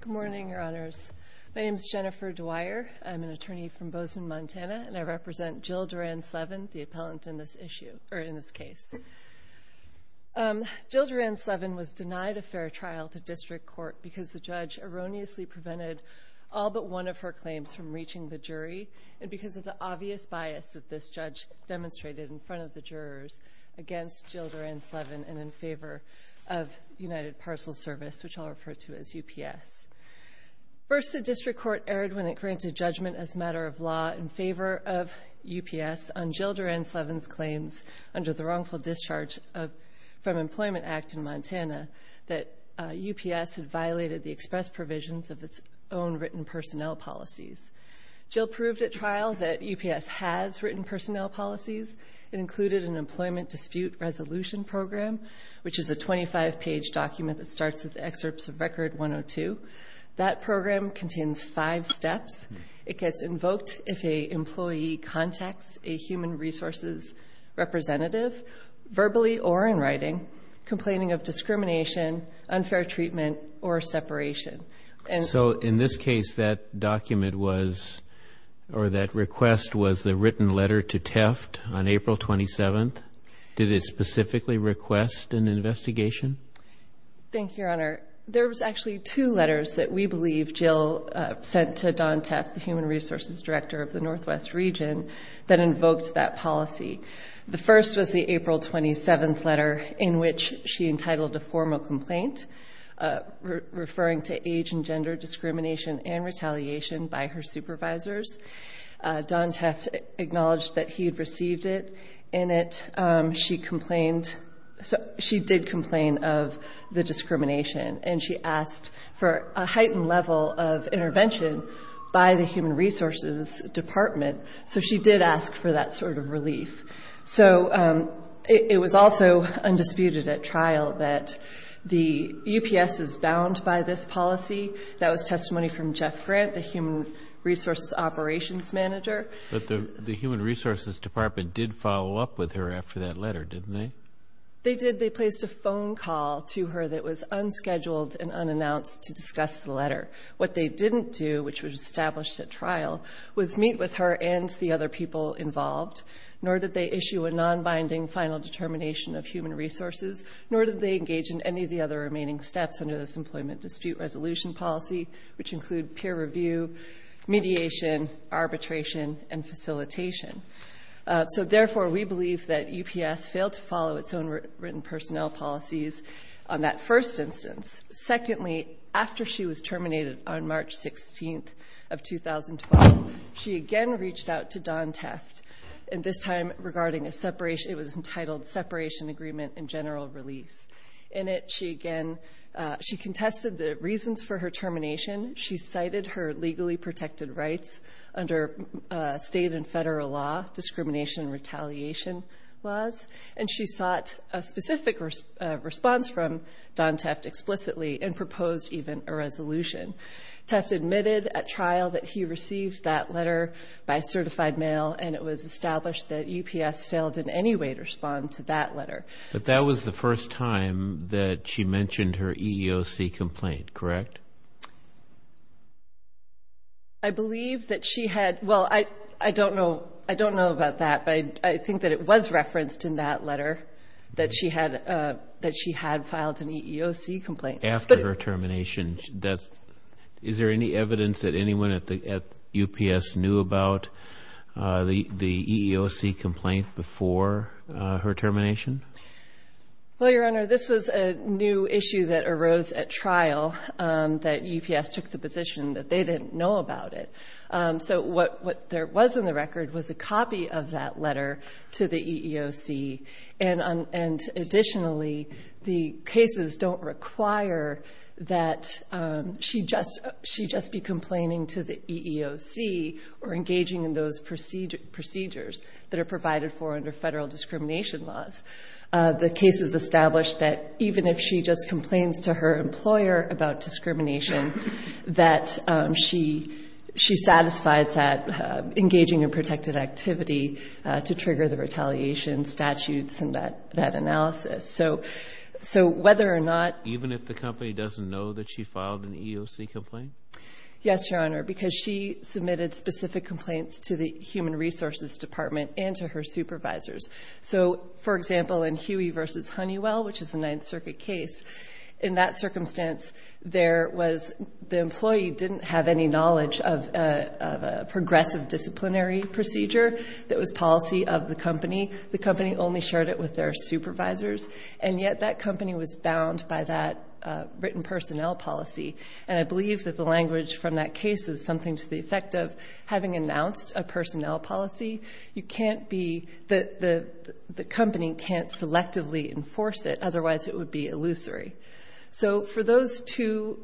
Good morning, Your Honors. My name is Jennifer Dwyer. I'm an attorney from Bozeman, Montana, and I represent Jill Doran-Slevin, the appellant in this issue, or in this case. Jill Doran-Slevin was denied a fair trial to district court because the judge erroneously prevented all but one of her claims from reaching the jury and because of the obvious bias that this judge demonstrated in front of the jurors against Jill Doran-Slevin and in favor of United Parcel Service, which I'll refer to as UPS. First, the district court erred when it granted judgment as a matter of law in favor of UPS on Jill Doran-Slevin's claims under the wrongful discharge from Employment Act in Montana that UPS had violated the express provisions of its own written personnel policies. Jill proved at trial that UPS has written personnel policies. It included an employment dispute resolution program, which is a 25-page document that starts with excerpts of Record 102. That program contains five steps. It gets invoked if a employee contacts a human resources representative verbally or in writing, complaining of discrimination, unfair treatment, or separation. So in this case, that document was, or that request was, a written complaint on April 27th. Did it specifically request an investigation? Thank you, Your Honor. There was actually two letters that we believe Jill sent to Dawn Teff, the Human Resources Director of the Northwest Region, that invoked that policy. The first was the April 27th letter in which she entitled a formal complaint referring to age and gender discrimination and retaliation by her in it. She complained, she did complain of the discrimination and she asked for a heightened level of intervention by the Human Resources Department. So she did ask for that sort of relief. So it was also undisputed at trial that the UPS is bound by this policy. That was testimony from Jeff Grant, the Human Resources Operations Manager. But the Human Resources Department did follow up with her after that letter, didn't they? They did. They placed a phone call to her that was unscheduled and unannounced to discuss the letter. What they didn't do, which was established at trial, was meet with her and the other people involved, nor did they issue a non-binding final determination of human resources, nor did they engage in any of the other remaining steps under this Employment Mediation, Arbitration, and Facilitation. So therefore, we believe that UPS failed to follow its own written personnel policies on that first instance. Secondly, after she was terminated on March 16th of 2012, she again reached out to Don Teft, and this time regarding a separation, it was entitled Separation Agreement and General Release. In it, she again, she contested the reasons for her rights under state and federal law, discrimination and retaliation laws, and she sought a specific response from Don Teft explicitly and proposed even a resolution. Teft admitted at trial that he received that letter by certified mail, and it was established that UPS failed in any way to respond to that letter. But that was the first time that she mentioned her EEOC complaint, correct? I believe that she had, well, I don't know, I don't know about that, but I think that it was referenced in that letter that she had, that she had filed an EEOC complaint. After her termination, that's, is there any evidence that anyone at the UPS knew about the EEOC complaint before her termination? Well, your that UPS took the position that they didn't know about it. So what there was in the record was a copy of that letter to the EEOC, and additionally, the cases don't require that she just be complaining to the EEOC or engaging in those procedures that are provided for under federal discrimination laws. The case is established that even if she just filed an EEOC complaint, even if the company doesn't know that she filed an EEOC complaint, Yes, Your Honor, because she submitted specific complaints to the Human Resources Department and to her supervisors. So, for example, in Huey v. Honeywell, which is a Ninth Circuit case, in that circumstance, there was, the employee didn't have any knowledge of a progressive disciplinary procedure that was policy of the company. The company only shared it with their supervisors, and yet that company was bound by that written personnel policy, and I believe that the language from that case is something to the effect of having announced a personnel policy, you can't be, the company can't selectively enforce it, otherwise it would be illusory. So, for those two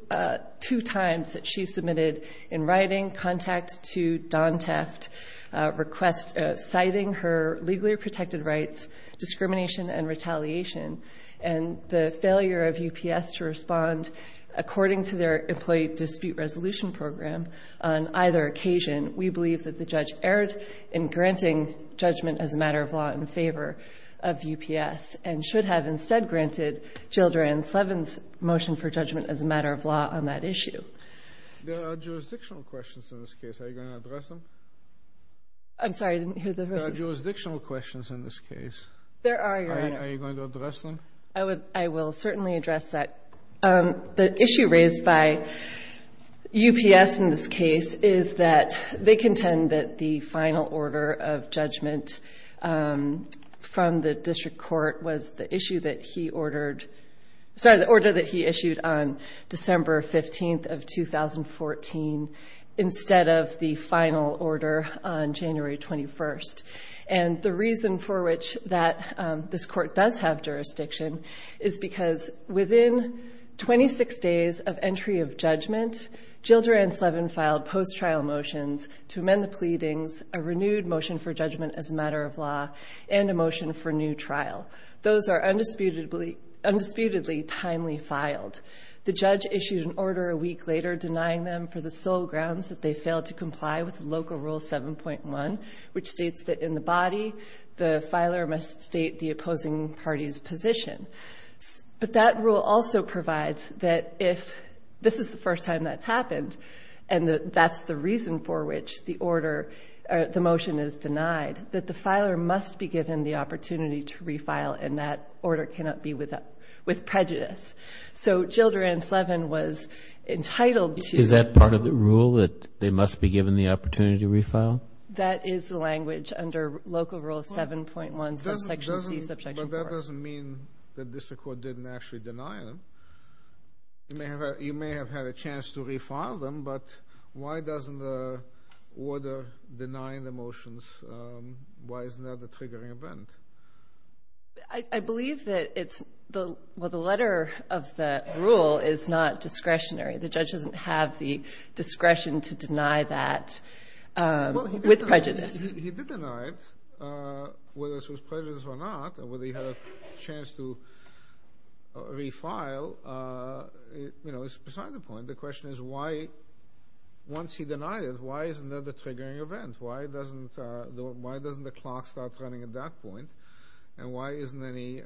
times that she submitted in writing, contact to Don Teft, request citing her legally protected rights, discrimination, and retaliation, and the failure of UPS to respond according to their employee dispute resolution program on either occasion, we believe that the judge erred in granting judgment as a matter of law in favor of UPS, and should have instead granted Jill Durand-Slevin's motion for judgment as a matter of law on that issue. There are jurisdictional questions in this case. Are you going to address them? I'm sorry, I didn't hear the first one. There are jurisdictional questions in this case. There are, Your Honor. Are you going to address them? I would, I will certainly address that. The issue raised by UPS in this case is that they contend that the final order of judgment from the district court was the issue that he ordered, sorry, the order that he issued on December 15th of 2014 instead of the final order on January 21st. And the reason for which that this court does have jurisdiction is because within 26 days of entry of motions to amend the pleadings, a renewed motion for judgment as a matter of law and a motion for new trial. Those are undisputedly timely filed. The judge issued an order a week later denying them for the sole grounds that they failed to comply with local rule 7.1, which states that in the body, the filer must state the opposing party's position. But that rule also provides that if this is the reason for which the order, the motion is denied, that the filer must be given the opportunity to re-file and that order cannot be with prejudice. So Jilder and Slevin was entitled to. Is that part of the rule that they must be given the opportunity to re-file? That is the language under local rule 7.1 subsection C, subjection 4. But that doesn't mean that the district court didn't actually deny them. You may have had a chance to re-file them, but why doesn't the order deny the motions? Why isn't that the triggering event? I believe that it's the letter of the rule is not discretionary. The judge doesn't have the discretion to deny that with prejudice. He did deny it, whether it was prejudice or not, or whether he had a chance to re-file. It's beside the point. The question is why, once he denied it, why isn't that the triggering event? Why doesn't the clock start running at that point? And why isn't any...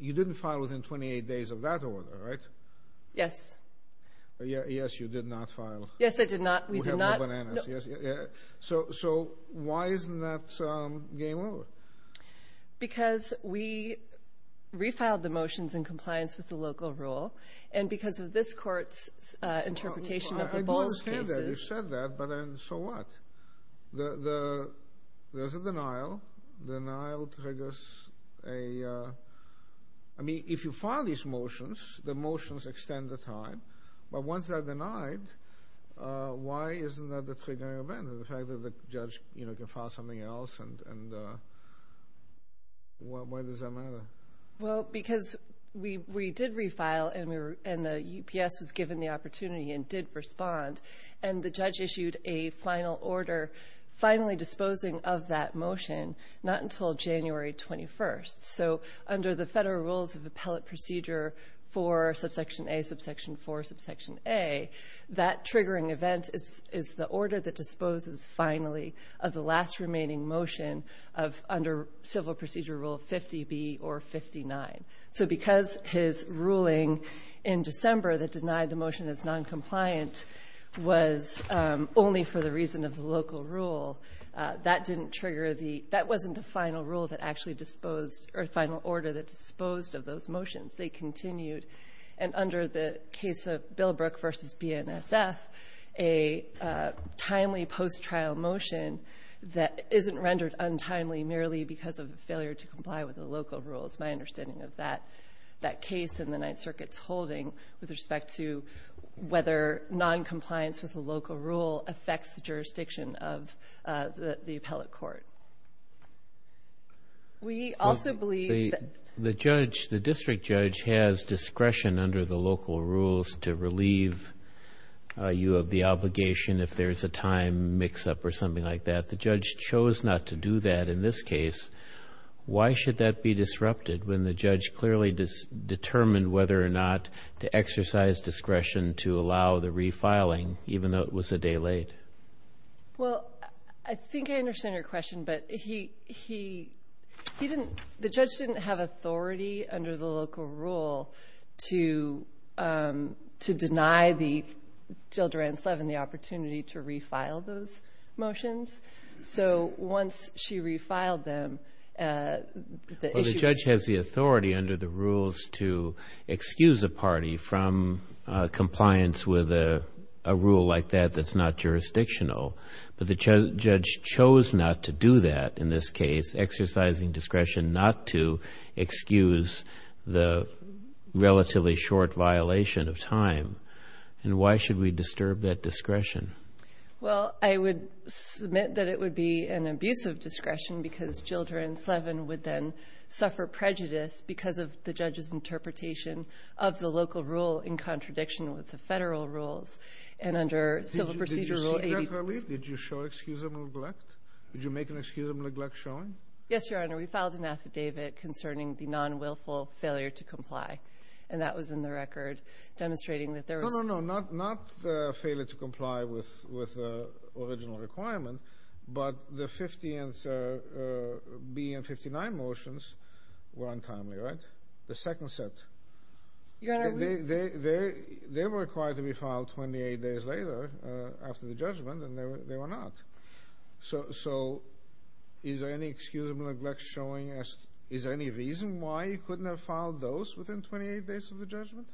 You didn't file within 28 days of that order, right? Yes. Yes, you did not file. Yes, I did not. We did not. So why isn't that game over? Because we re-filed the motions in compliance with the local rule. And because of this court's interpretation of the Boll's cases... I do understand that you said that, but then so what? There's a denial. Denial triggers a... I mean, if you file these motions, the motions extend the time. But once they're denied, why isn't that the triggering event? Because of the fact that the judge can file something else, and why does that matter? Well, because we did re-file, and the UPS was given the opportunity and did respond, and the judge issued a final order finally disposing of that motion not until January 21st. So under the federal rules of appellate procedure for subsection A, subsection 4, subsection A, that triggering event is the order that disposes finally of the last remaining motion under civil procedure rule 50B or 59. So because his ruling in December that denied the motion as noncompliant was only for the reason of the local rule, that didn't trigger the... that wasn't the final rule that actually disposed or final order that disposed of those motions. They continued, and under the case of Billbrook v. BNSF, a timely post-trial motion that isn't rendered untimely merely because of failure to comply with the local rules. My understanding of that case in the Ninth Circuit's holding with respect to whether noncompliance with the local rule affects the jurisdiction of the appellate court. We also believe that... The judge, the district judge has discretion under the local rules to relieve you of the obligation if there's a time mix-up or something like that. The judge chose not to do that in this case. Why should that be disrupted when the judge clearly determined whether or not to exercise discretion to allow the refiling even though it was a day late? Well, I think I understand your question, but he didn't... The judge didn't have authority under the local rule to deny Jill Durant Slevin the opportunity to refile those motions. So once she refiled them, the issue was... Well, the judge has the authority under the rules to excuse a party from compliance with a rule like that that's not jurisdictional, but the judge chose not to do that in this case, exercising discretion not to excuse the relatively short violation of time. And why should we disturb that discretion? Well, I would submit that it would be an abusive discretion because Jill Durant Slevin would then suffer prejudice because of the judge's interpretation of the local rule in contradiction with the federal rules. And under Civil Procedure Rule 80... Did you show excusable neglect? Did you make an excusable neglect showing? Yes, Your Honor. We filed an affidavit concerning the non-willful failure to comply, and that was in the record demonstrating that there was... No, no, no, not failure to comply with the original requirement, but the 15th B and 59 motions were untimely, right? The second set. Your Honor, we... They were required to be filed 28 days later after the judgment, and they were not. So is there any excusable neglect showing? Is there any reason why you couldn't have filed those within 28 days of the judgment?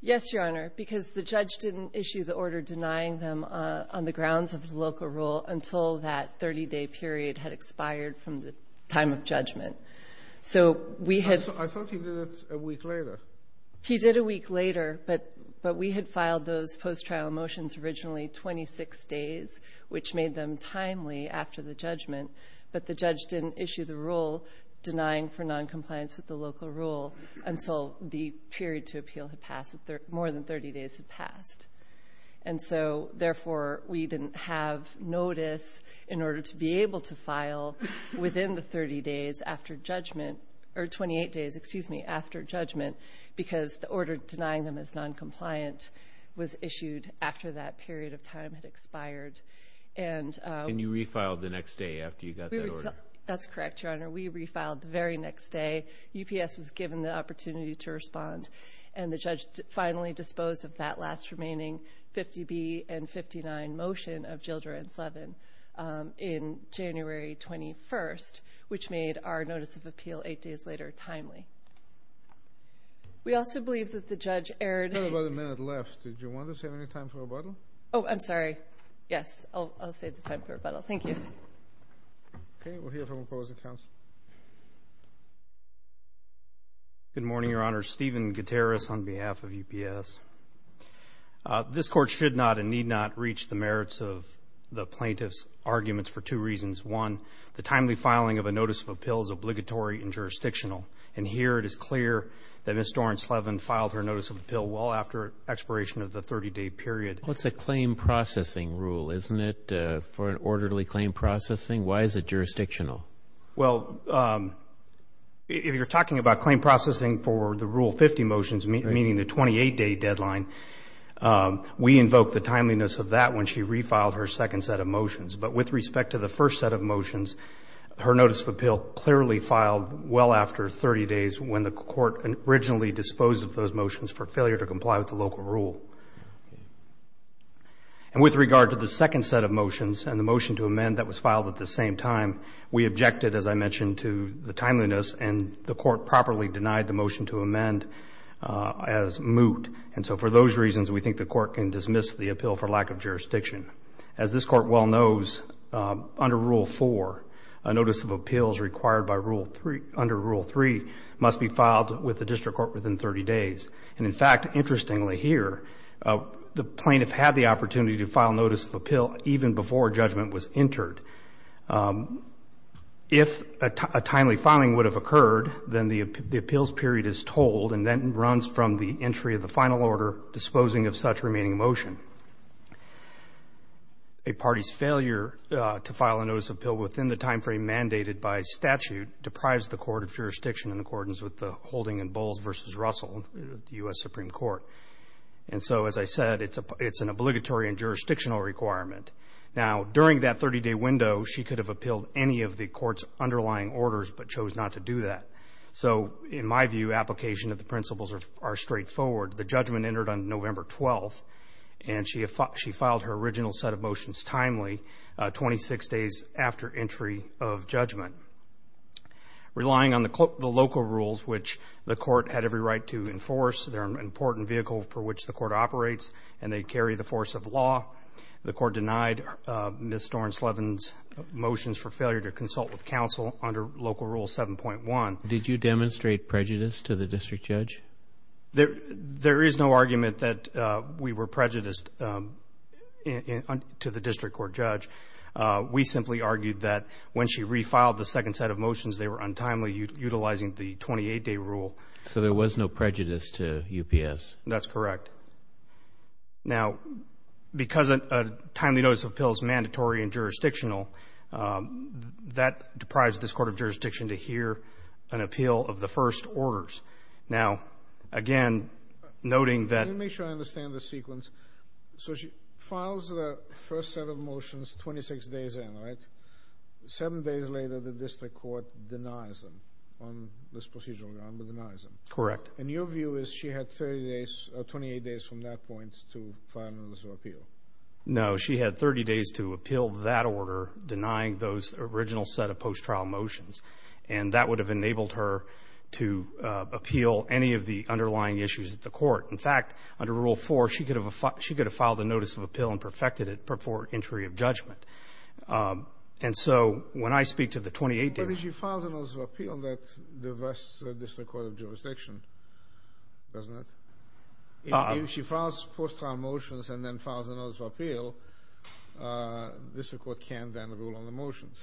Yes, Your Honor, because the judge didn't issue the order denying them on the grounds of the local rule until that 30-day period had expired from the time of judgment. So we had... I thought he did it a week later. He did a week later, but we had filed those post-trial motions originally 26 days, which made them timely after the judgment, but the judge didn't issue the rule denying for noncompliance with the local rule until the period to appeal had passed, more than 30 days had passed. And so, therefore, we didn't have notice in order to be able to file within the 30 days after judgment, or 28 days, excuse me, after judgment, because the order denying them as noncompliant was issued after that period of time had expired. And you refiled the next day after you got that order? That's correct, Your Honor. We refiled the very next day. UPS was given the opportunity to respond, and the judge finally disposed of that last remaining 50B and 59 motion of Jildre and Slevin in January 21st, which made our notice of appeal eight days later timely. We also believe that the judge erred... We have about a minute left. Did you want to save any time for rebuttal? Oh, I'm sorry. Yes, I'll save the time for rebuttal. Thank you. Okay, we'll hear from opposing counsel. Good morning, Your Honor. Steven Gutierrez on behalf of UPS. This Court should not and need not reach the merits of the plaintiff's arguments for two reasons. One, the timely filing of a notice of appeal is obligatory and jurisdictional. And here it is clear that Ms. Doren-Slevin filed her notice of appeal well after expiration of the 30-day period. Well, it's a claim processing rule, isn't it, for an orderly claim processing? Why is it jurisdictional? Well, if you're talking about claim processing for the Rule 50 motions, meaning the 28-day deadline, we invoke the timeliness of that when she refiled her second set of motions. But with respect to the first set of motions, her notice of appeal clearly filed well after 30 days when the court originally disposed of those motions for failure to comply with the local rule. And with regard to the second set of motions and the motion to amend that was filed at the same time, we objected, as I mentioned, to the timeliness, and the court properly denied the motion to amend as moot. And so for those reasons, we think the court can dismiss the appeal for lack of jurisdiction. As this court well knows, under Rule 4, a notice of appeals required under Rule 3 must be filed with the district court within 30 days. And, in fact, interestingly here, the plaintiff had the opportunity to file notice of appeal even before judgment was entered. If a timely filing would have occurred, then the appeals period is told and then runs from the entry of the final order disposing of such remaining motion. A party's failure to file a notice of appeal within the timeframe mandated by statute deprives the court of jurisdiction in accordance with the holding in Bowles v. Russell, the U.S. Supreme Court. And so, as I said, it's an obligatory and jurisdictional requirement. Now, during that 30-day window, she could have appealed any of the court's underlying orders but chose not to do that. So, in my view, application of the principles are straightforward. The judgment entered on November 12th, and she filed her original set of motions timely, 26 days after entry of judgment. Relying on the local rules, which the court had every right to enforce, they're an important vehicle for which the court operates, and they carry the force of law, the court denied Ms. Dornslevin's motions for failure to consult with counsel under Local Rule 7.1. Did you demonstrate prejudice to the district judge? There is no argument that we were prejudiced to the district court judge. We simply argued that when she refiled the second set of motions, they were untimely utilizing the 28-day rule. So there was no prejudice to UPS? That's correct. Now, because a timely notice of appeal is mandatory and jurisdictional, that deprives this court of jurisdiction to hear an appeal of the first orders. Now, again, noting that— Let me make sure I understand the sequence. So she files the first set of motions 26 days in, right? Seven days later, the district court denies them on this procedural ground, but denies them. Correct. And your view is she had 30 days or 28 days from that point to file a notice of appeal? No, she had 30 days to appeal that order, denying those original set of post-trial motions, and that would have enabled her to appeal any of the underlying issues at the court. In fact, under Rule 4, she could have filed a notice of appeal and perfected it before entry of judgment. And so when I speak to the 28 days— But if she files a notice of appeal, that divests the district court of jurisdiction, doesn't it? If she files post-trial motions and then files a notice of appeal, the district court can then rule on the motions.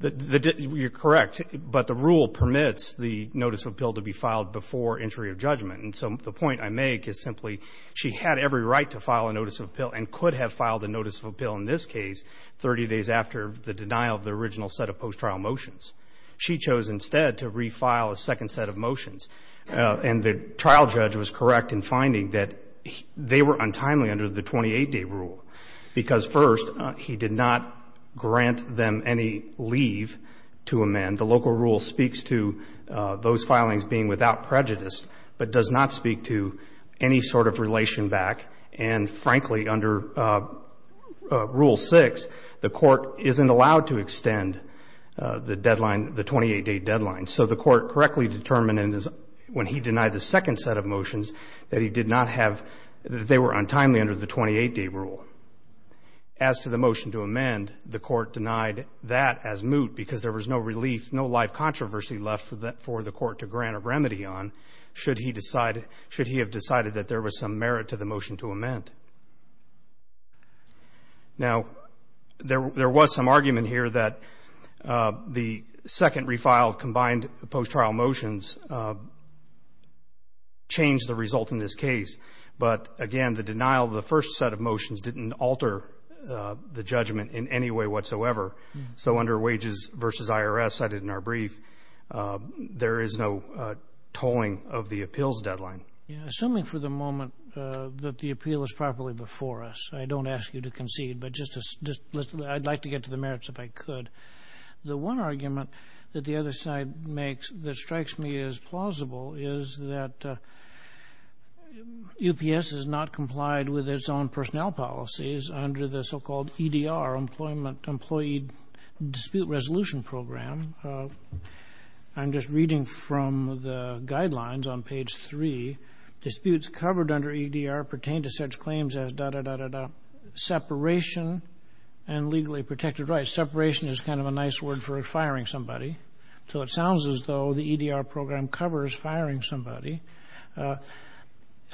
You're correct. But the rule permits the notice of appeal to be filed before entry of judgment. And so the point I make is simply she had every right to file a notice of appeal and could have filed a notice of appeal in this case 30 days after the denial of the original set of post-trial motions. She chose instead to refile a second set of motions. And the trial judge was correct in finding that they were untimely under the 28-day rule because, first, he did not grant them any leave to amend. The local rule speaks to those filings being without prejudice but does not speak to any sort of relation back. And, frankly, under Rule 6, the court isn't allowed to extend the deadline, the 28-day deadline. So the court correctly determined when he denied the second set of motions that he did not have, that they were untimely under the 28-day rule. As to the motion to amend, the court denied that as moot because there was no relief, no life controversy left for the court to grant a remedy on should he decide, should he have decided that there was some merit to the motion to amend. Now, there was some argument here that the second refiled combined post-trial motions changed the result in this case. But, again, the denial of the first set of motions didn't alter the judgment in any way whatsoever. So under Wages v. IRS, cited in our brief, there is no tolling of the appeals deadline. Assuming for the moment that the appeal is properly before us, I don't ask you to concede, but I'd like to get to the merits if I could. The one argument that the other side makes that strikes me as plausible is that UPS has not complied with its own personnel policies under the so-called EDR, Employee Dispute Resolution Program. I'm just reading from the guidelines on page 3. Disputes covered under EDR pertain to such claims as, da-da-da-da-da, separation and legally protected rights. Separation is kind of a nice word for firing somebody. So it sounds as though the EDR program covers firing somebody.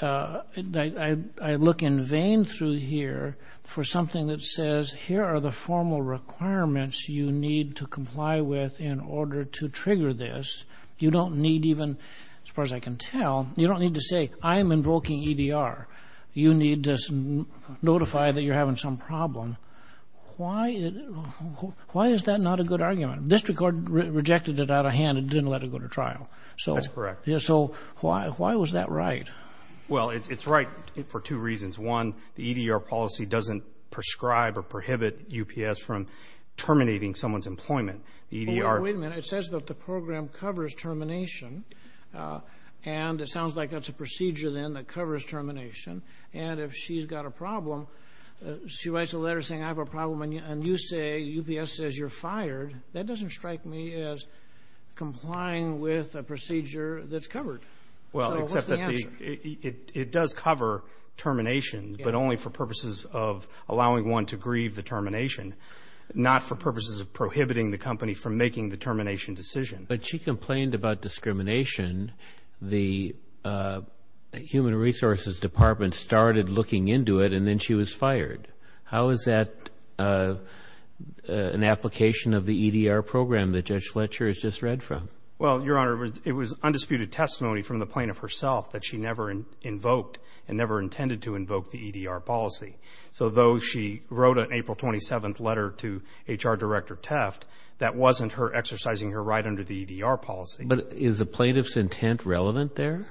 I look in vain through here for something that says, here are the formal requirements you need to comply with in order to trigger this. You don't need even, as far as I can tell, you don't need to say, I'm invoking EDR. You need to notify that you're having some problem. Why is that not a good argument? District Court rejected it out of hand and didn't let it go to trial. That's correct. So why was that right? Well, it's right for two reasons. One, the EDR policy doesn't prescribe or prohibit UPS from terminating someone's employment. Wait a minute. It says that the program covers termination. And it sounds like that's a procedure then that covers termination. And if she's got a problem, she writes a letter saying, I have a problem, and you say, UPS says you're fired. That doesn't strike me as complying with a procedure that's covered. So what's the answer? It does cover termination, but only for purposes of allowing one to grieve the termination, not for purposes of prohibiting the company from making the termination decision. But she complained about discrimination. The Human Resources Department started looking into it, and then she was fired. How is that an application of the EDR program that Judge Fletcher has just read from? Well, Your Honor, it was undisputed testimony from the plaintiff herself that she never invoked and never intended to invoke the EDR policy. So though she wrote an April 27th letter to HR Director Teft, that wasn't her exercising her right under the EDR policy. But is the plaintiff's intent relevant there?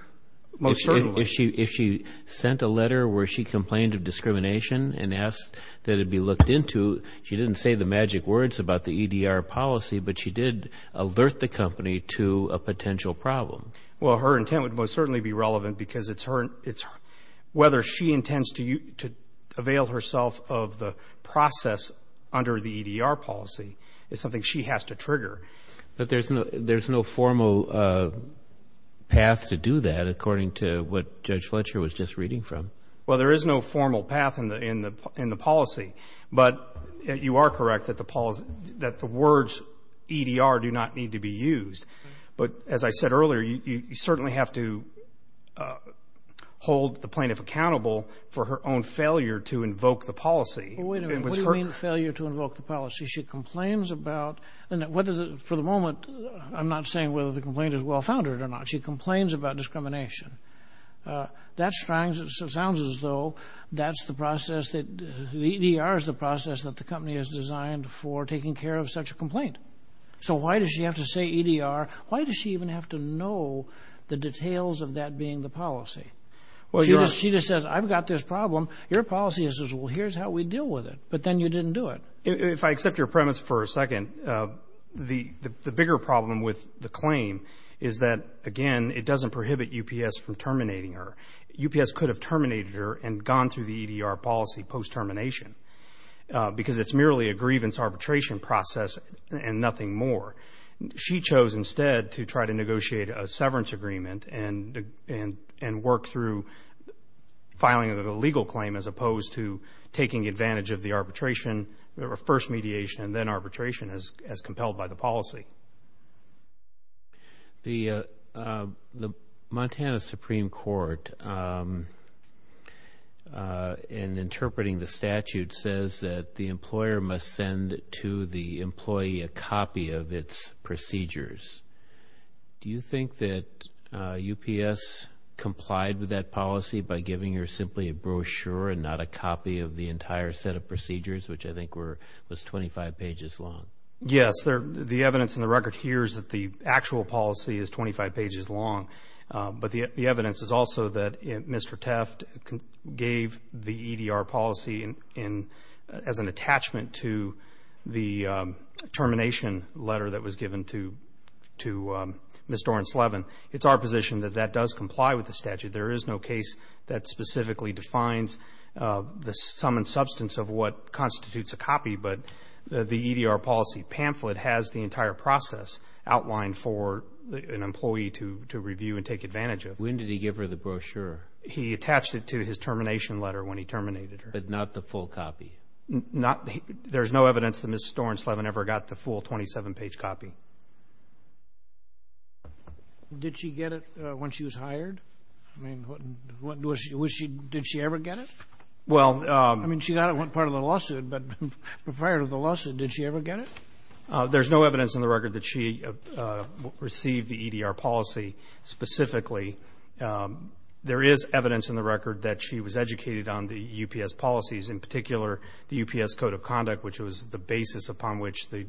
Most certainly. If she sent a letter where she complained of discrimination and asked that it be looked into, she didn't say the magic words about the EDR policy, but she did alert the company to a potential problem. Well, her intent would most certainly be relevant because it's whether she intends to avail herself of the process under the EDR policy is something she has to trigger. But there's no formal path to do that according to what Judge Fletcher was just reading from. Well, there is no formal path in the policy. But you are correct that the words EDR do not need to be used. But as I said earlier, you certainly have to hold the plaintiff accountable for her own failure to invoke the policy. What do you mean failure to invoke the policy? She complains about, and for the moment I'm not saying whether the complaint is well-founded or not, she complains about discrimination. That sounds as though that's the process, the EDR is the process that the company has designed for taking care of such a complaint. So why does she have to say EDR? Why does she even have to know the details of that being the policy? She just says, I've got this problem. Your policy is this. Well, here's how we deal with it. But then you didn't do it. If I accept your premise for a second, the bigger problem with the claim is that, again, it doesn't prohibit UPS from terminating her. UPS could have terminated her and gone through the EDR policy post-termination because it's merely a grievance arbitration process and nothing more. She chose instead to try to negotiate a severance agreement and work through filing a legal claim as opposed to taking advantage of the arbitration, the first mediation and then arbitration as compelled by the policy. The Montana Supreme Court, in interpreting the statute, says that the employer must send to the employee a copy of its procedures. Do you think that UPS complied with that policy by giving her simply a brochure and not a copy of the entire set of procedures, which I think was 25 pages long? Yes. The evidence in the record here is that the actual policy is 25 pages long. But the evidence is also that Mr. Tefft gave the EDR policy as an attachment to the termination letter that was given to Ms. Dorrance-Levin. It's our position that that does comply with the statute. There is no case that specifically defines the sum and substance of what constitutes a copy, but the EDR policy pamphlet has the entire process outlined for an employee to review and take advantage of. When did he give her the brochure? He attached it to his termination letter when he terminated her. But not the full copy? There's no evidence that Ms. Dorrance-Levin ever got the full 27-page copy. Did she get it when she was hired? I mean, did she ever get it? Well, I mean, she got it when part of the lawsuit, but prior to the lawsuit, did she ever get it? There's no evidence in the record that she received the EDR policy specifically. There is evidence in the record that she was educated on the UPS policies, in particular the UPS Code of Conduct, which was the basis upon which the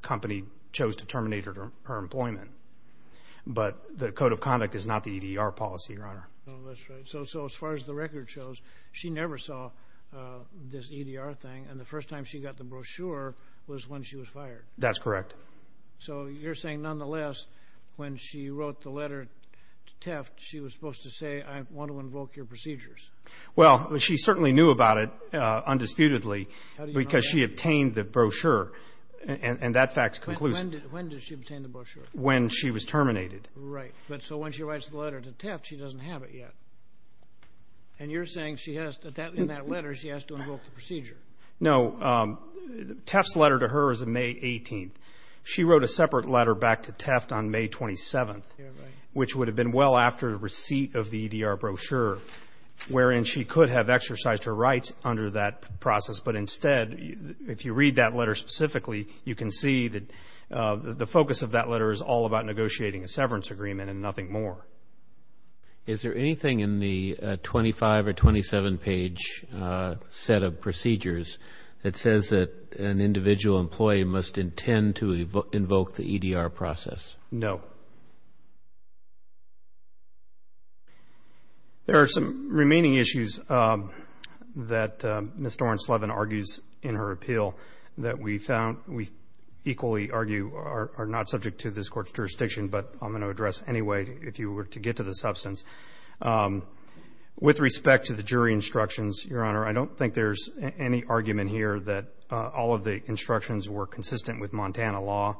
company chose to terminate her employment. But the Code of Conduct is not the EDR policy, Your Honor. Oh, that's right. So as far as the record shows, she never saw this EDR thing, and the first time she got the brochure was when she was fired? That's correct. So you're saying, nonetheless, when she wrote the letter to Teft, she was supposed to say, I want to invoke your procedures? Well, she certainly knew about it undisputedly because she obtained the brochure, and that fact's conclusive. When did she obtain the brochure? When she was terminated. Right. But so when she writes the letter to Teft, she doesn't have it yet. And you're saying in that letter she has to invoke the procedure? No. Teft's letter to her is on May 18th. She wrote a separate letter back to Teft on May 27th, which would have been well after the receipt of the EDR brochure, wherein she could have exercised her rights under that process. But instead, if you read that letter specifically, you can see that the focus of that letter is all about negotiating a severance agreement and nothing more. Is there anything in the 25- or 27-page set of procedures that says that an individual employee must intend to invoke the EDR process? No. There are some remaining issues that Ms. Doren-Slevin argues in her appeal that we found we equally argue are not subject to this Court's jurisdiction, but I'm going to address anyway if you were to get to the substance. With respect to the jury instructions, Your Honor, I don't think there's any argument here that all of the instructions were consistent with Montana law.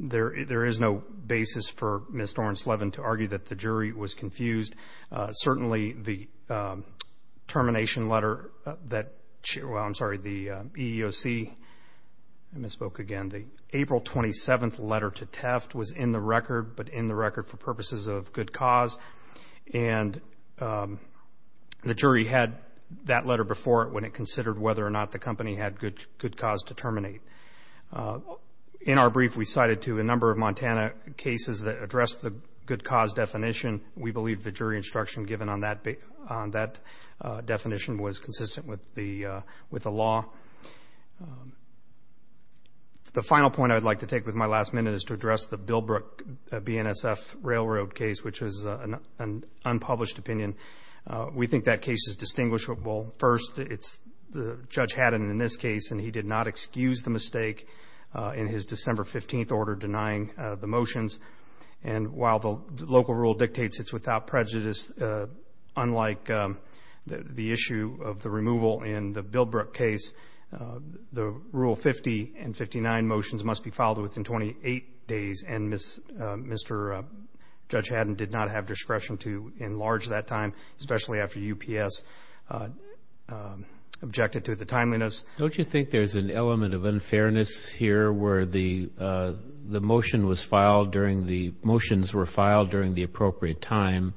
There is no basis for Ms. Doren-Slevin to argue that the jury was confused. Certainly, the termination letter that the EEOC, I misspoke again, the April 27th letter to Teft was in the record, but in the record for purposes of good cause. And the jury had that letter before it when it considered whether or not the company had good cause to terminate. In our brief, we cited to a number of Montana cases that addressed the good cause definition. We believe the jury instruction given on that definition was consistent with the law. The final point I would like to take with my last minute is to address the Billbrook BNSF railroad case, which is an unpublished opinion. We think that case is distinguishable. First, Judge Haddon in this case, and he did not excuse the mistake in his December 15th order denying the motions. And while the local rule dictates it's without prejudice, unlike the issue of the removal in the Billbrook case, the Rule 50 and 59 motions must be filed within 28 days. And Mr. Judge Haddon did not have discretion to enlarge that time, especially after UPS objected to the timeliness. Don't you think there's an element of unfairness here where the motion was filed during the motions were filed during the appropriate time,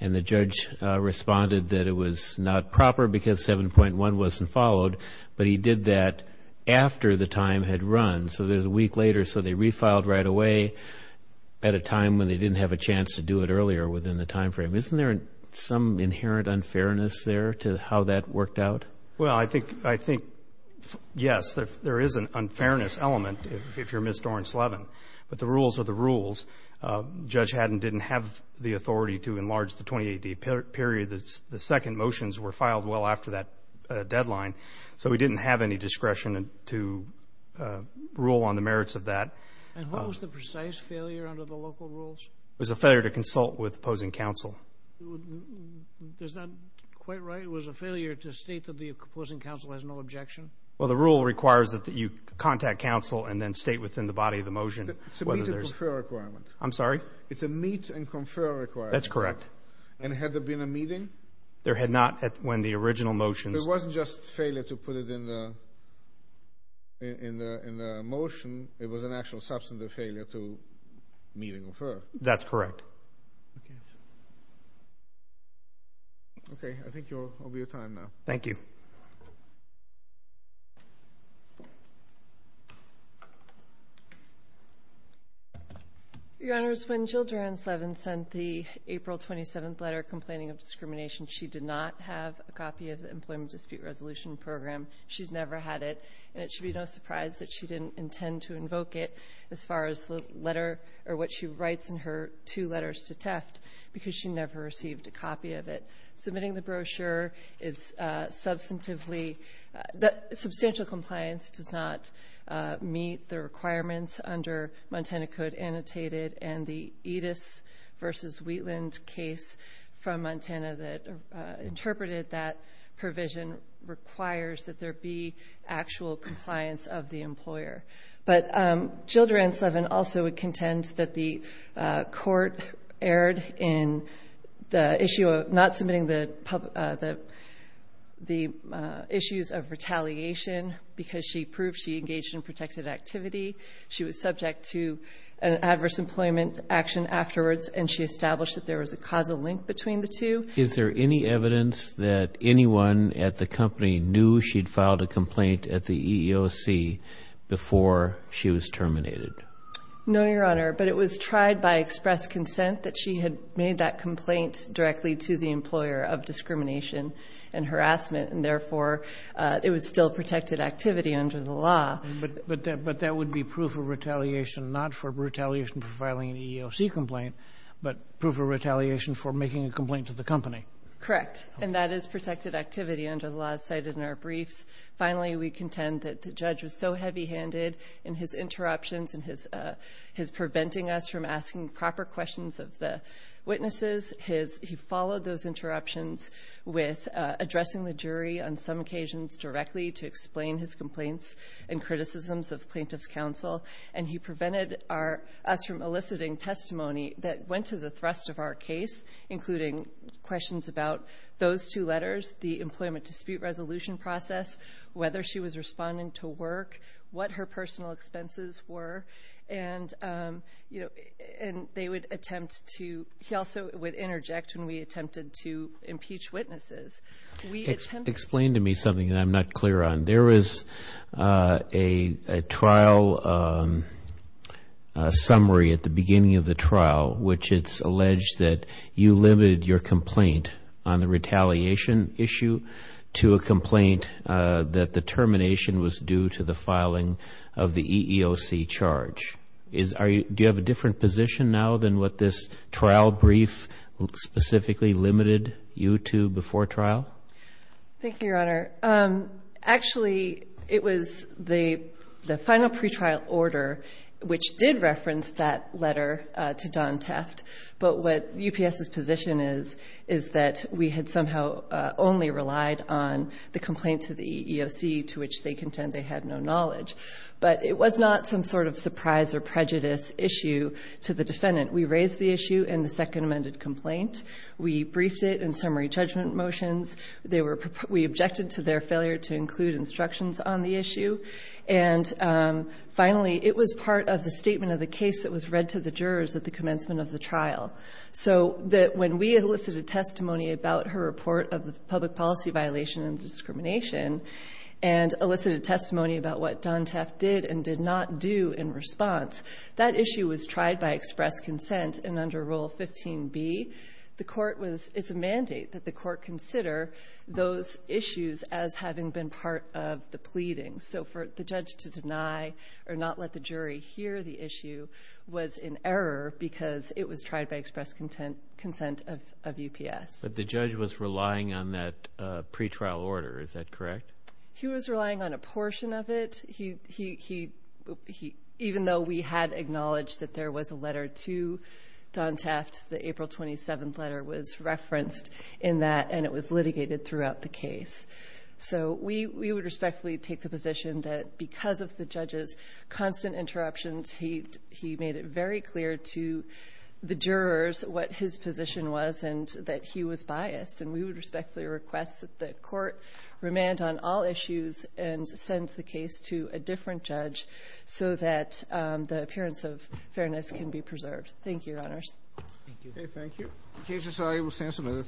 and the judge responded that it was not proper because 7.1 wasn't followed, but he did that after the time had run. So there's a week later, so they refiled right away at a time when they didn't have a chance to do it earlier within the time frame. Isn't there some inherent unfairness there to how that worked out? Well, I think, yes, there is an unfairness element if you're Ms. Doren-Slevin. But the rules are the rules. Judge Haddon didn't have the authority to enlarge the 28-day period. The second motions were filed well after that deadline, so he didn't have any discretion to rule on the merits of that. And what was the precise failure under the local rules? It was a failure to consult with opposing counsel. Is that quite right? It was a failure to state that the opposing counsel has no objection? Well, the rule requires that you contact counsel and then state within the body of the motion. It's a meet and confer requirement. I'm sorry? It's a meet and confer requirement. That's correct. And had there been a meeting? There had not when the original motions. It wasn't just failure to put it in the motion. It was an actual substantive failure to meet and confer. That's correct. Okay. Okay, I think I'll be out of time now. Thank you. Your Honors, when Jill Doren-Slevin sent the April 27th letter complaining of discrimination, she did not have a copy of the Employment Dispute Resolution Program. She's never had it, and it should be no surprise that she didn't intend to invoke it as far as the letter or what she writes in her two letters to TEFT, because she never received a copy of it. Submitting the brochure is substantively ‑‑ substantial compliance does not meet the requirements under Montana Code Annotated and the Edis v. Wheatland case from Montana that interpreted that provision requires that there be actual compliance of the employer. But Jill Doren-Slevin also contends that the court erred in the issue of not submitting the issues of retaliation because she proved she engaged in protected activity. She was subject to an adverse employment action afterwards, and she established that there was a causal link between the two. Is there any evidence that anyone at the company knew she'd filed a complaint at the EEOC before she was terminated? No, Your Honor, but it was tried by express consent that she had made that complaint directly to the employer of discrimination and harassment, and therefore it was still protected activity under the law. But that would be proof of retaliation, not for retaliation for filing an EEOC complaint, but proof of retaliation for making a complaint to the company. Correct, and that is protected activity under the law cited in our briefs. Finally, we contend that the judge was so heavy-handed in his interruptions and his preventing us from asking proper questions of the witnesses. He followed those interruptions with addressing the jury on some occasions directly to explain his complaints and criticisms of plaintiff's counsel, and he prevented us from eliciting testimony that went to the thrust of our case, including questions about those two letters, the employment dispute resolution process, whether she was responding to work, what her personal expenses were, and he also would interject when we attempted to impeach witnesses. Explain to me something that I'm not clear on. There is a trial summary at the beginning of the trial, which it's alleged that you limited your complaint on the retaliation issue to a complaint that the termination was due to the filing of the EEOC charge. Do you have a different position now than what this trial brief specifically limited you to before trial? Thank you, Your Honor. Actually, it was the final pretrial order which did reference that letter to Don Teft, but what UPS's position is is that we had somehow only relied on the complaint to the EEOC to which they contend they had no knowledge. But it was not some sort of surprise or prejudice issue to the defendant. We raised the issue in the second amended complaint. We briefed it in summary judgment motions. We objected to their failure to include instructions on the issue. And finally, it was part of the statement of the case that was read to the jurors at the commencement of the trial, so that when we elicited testimony about her report of the public policy violation and discrimination and elicited testimony about what Don Teft did and did not do in response, that issue was tried by express consent and under Rule 15b. It's a mandate that the court consider those issues as having been part of the pleading. So for the judge to deny or not let the jury hear the issue was in error because it was tried by express consent of UPS. But the judge was relying on that pretrial order. Is that correct? He was relying on a portion of it. Even though we had acknowledged that there was a letter to Don Teft, the April 27th letter was referenced in that, and it was litigated throughout the case. So we would respectfully take the position that because of the judge's constant interruptions, he made it very clear to the jurors what his position was and that he was biased. And we would respectfully request that the court remand on all issues and send the case to a different judge so that the appearance of fairness can be preserved. Thank you, Your Honors. Thank you.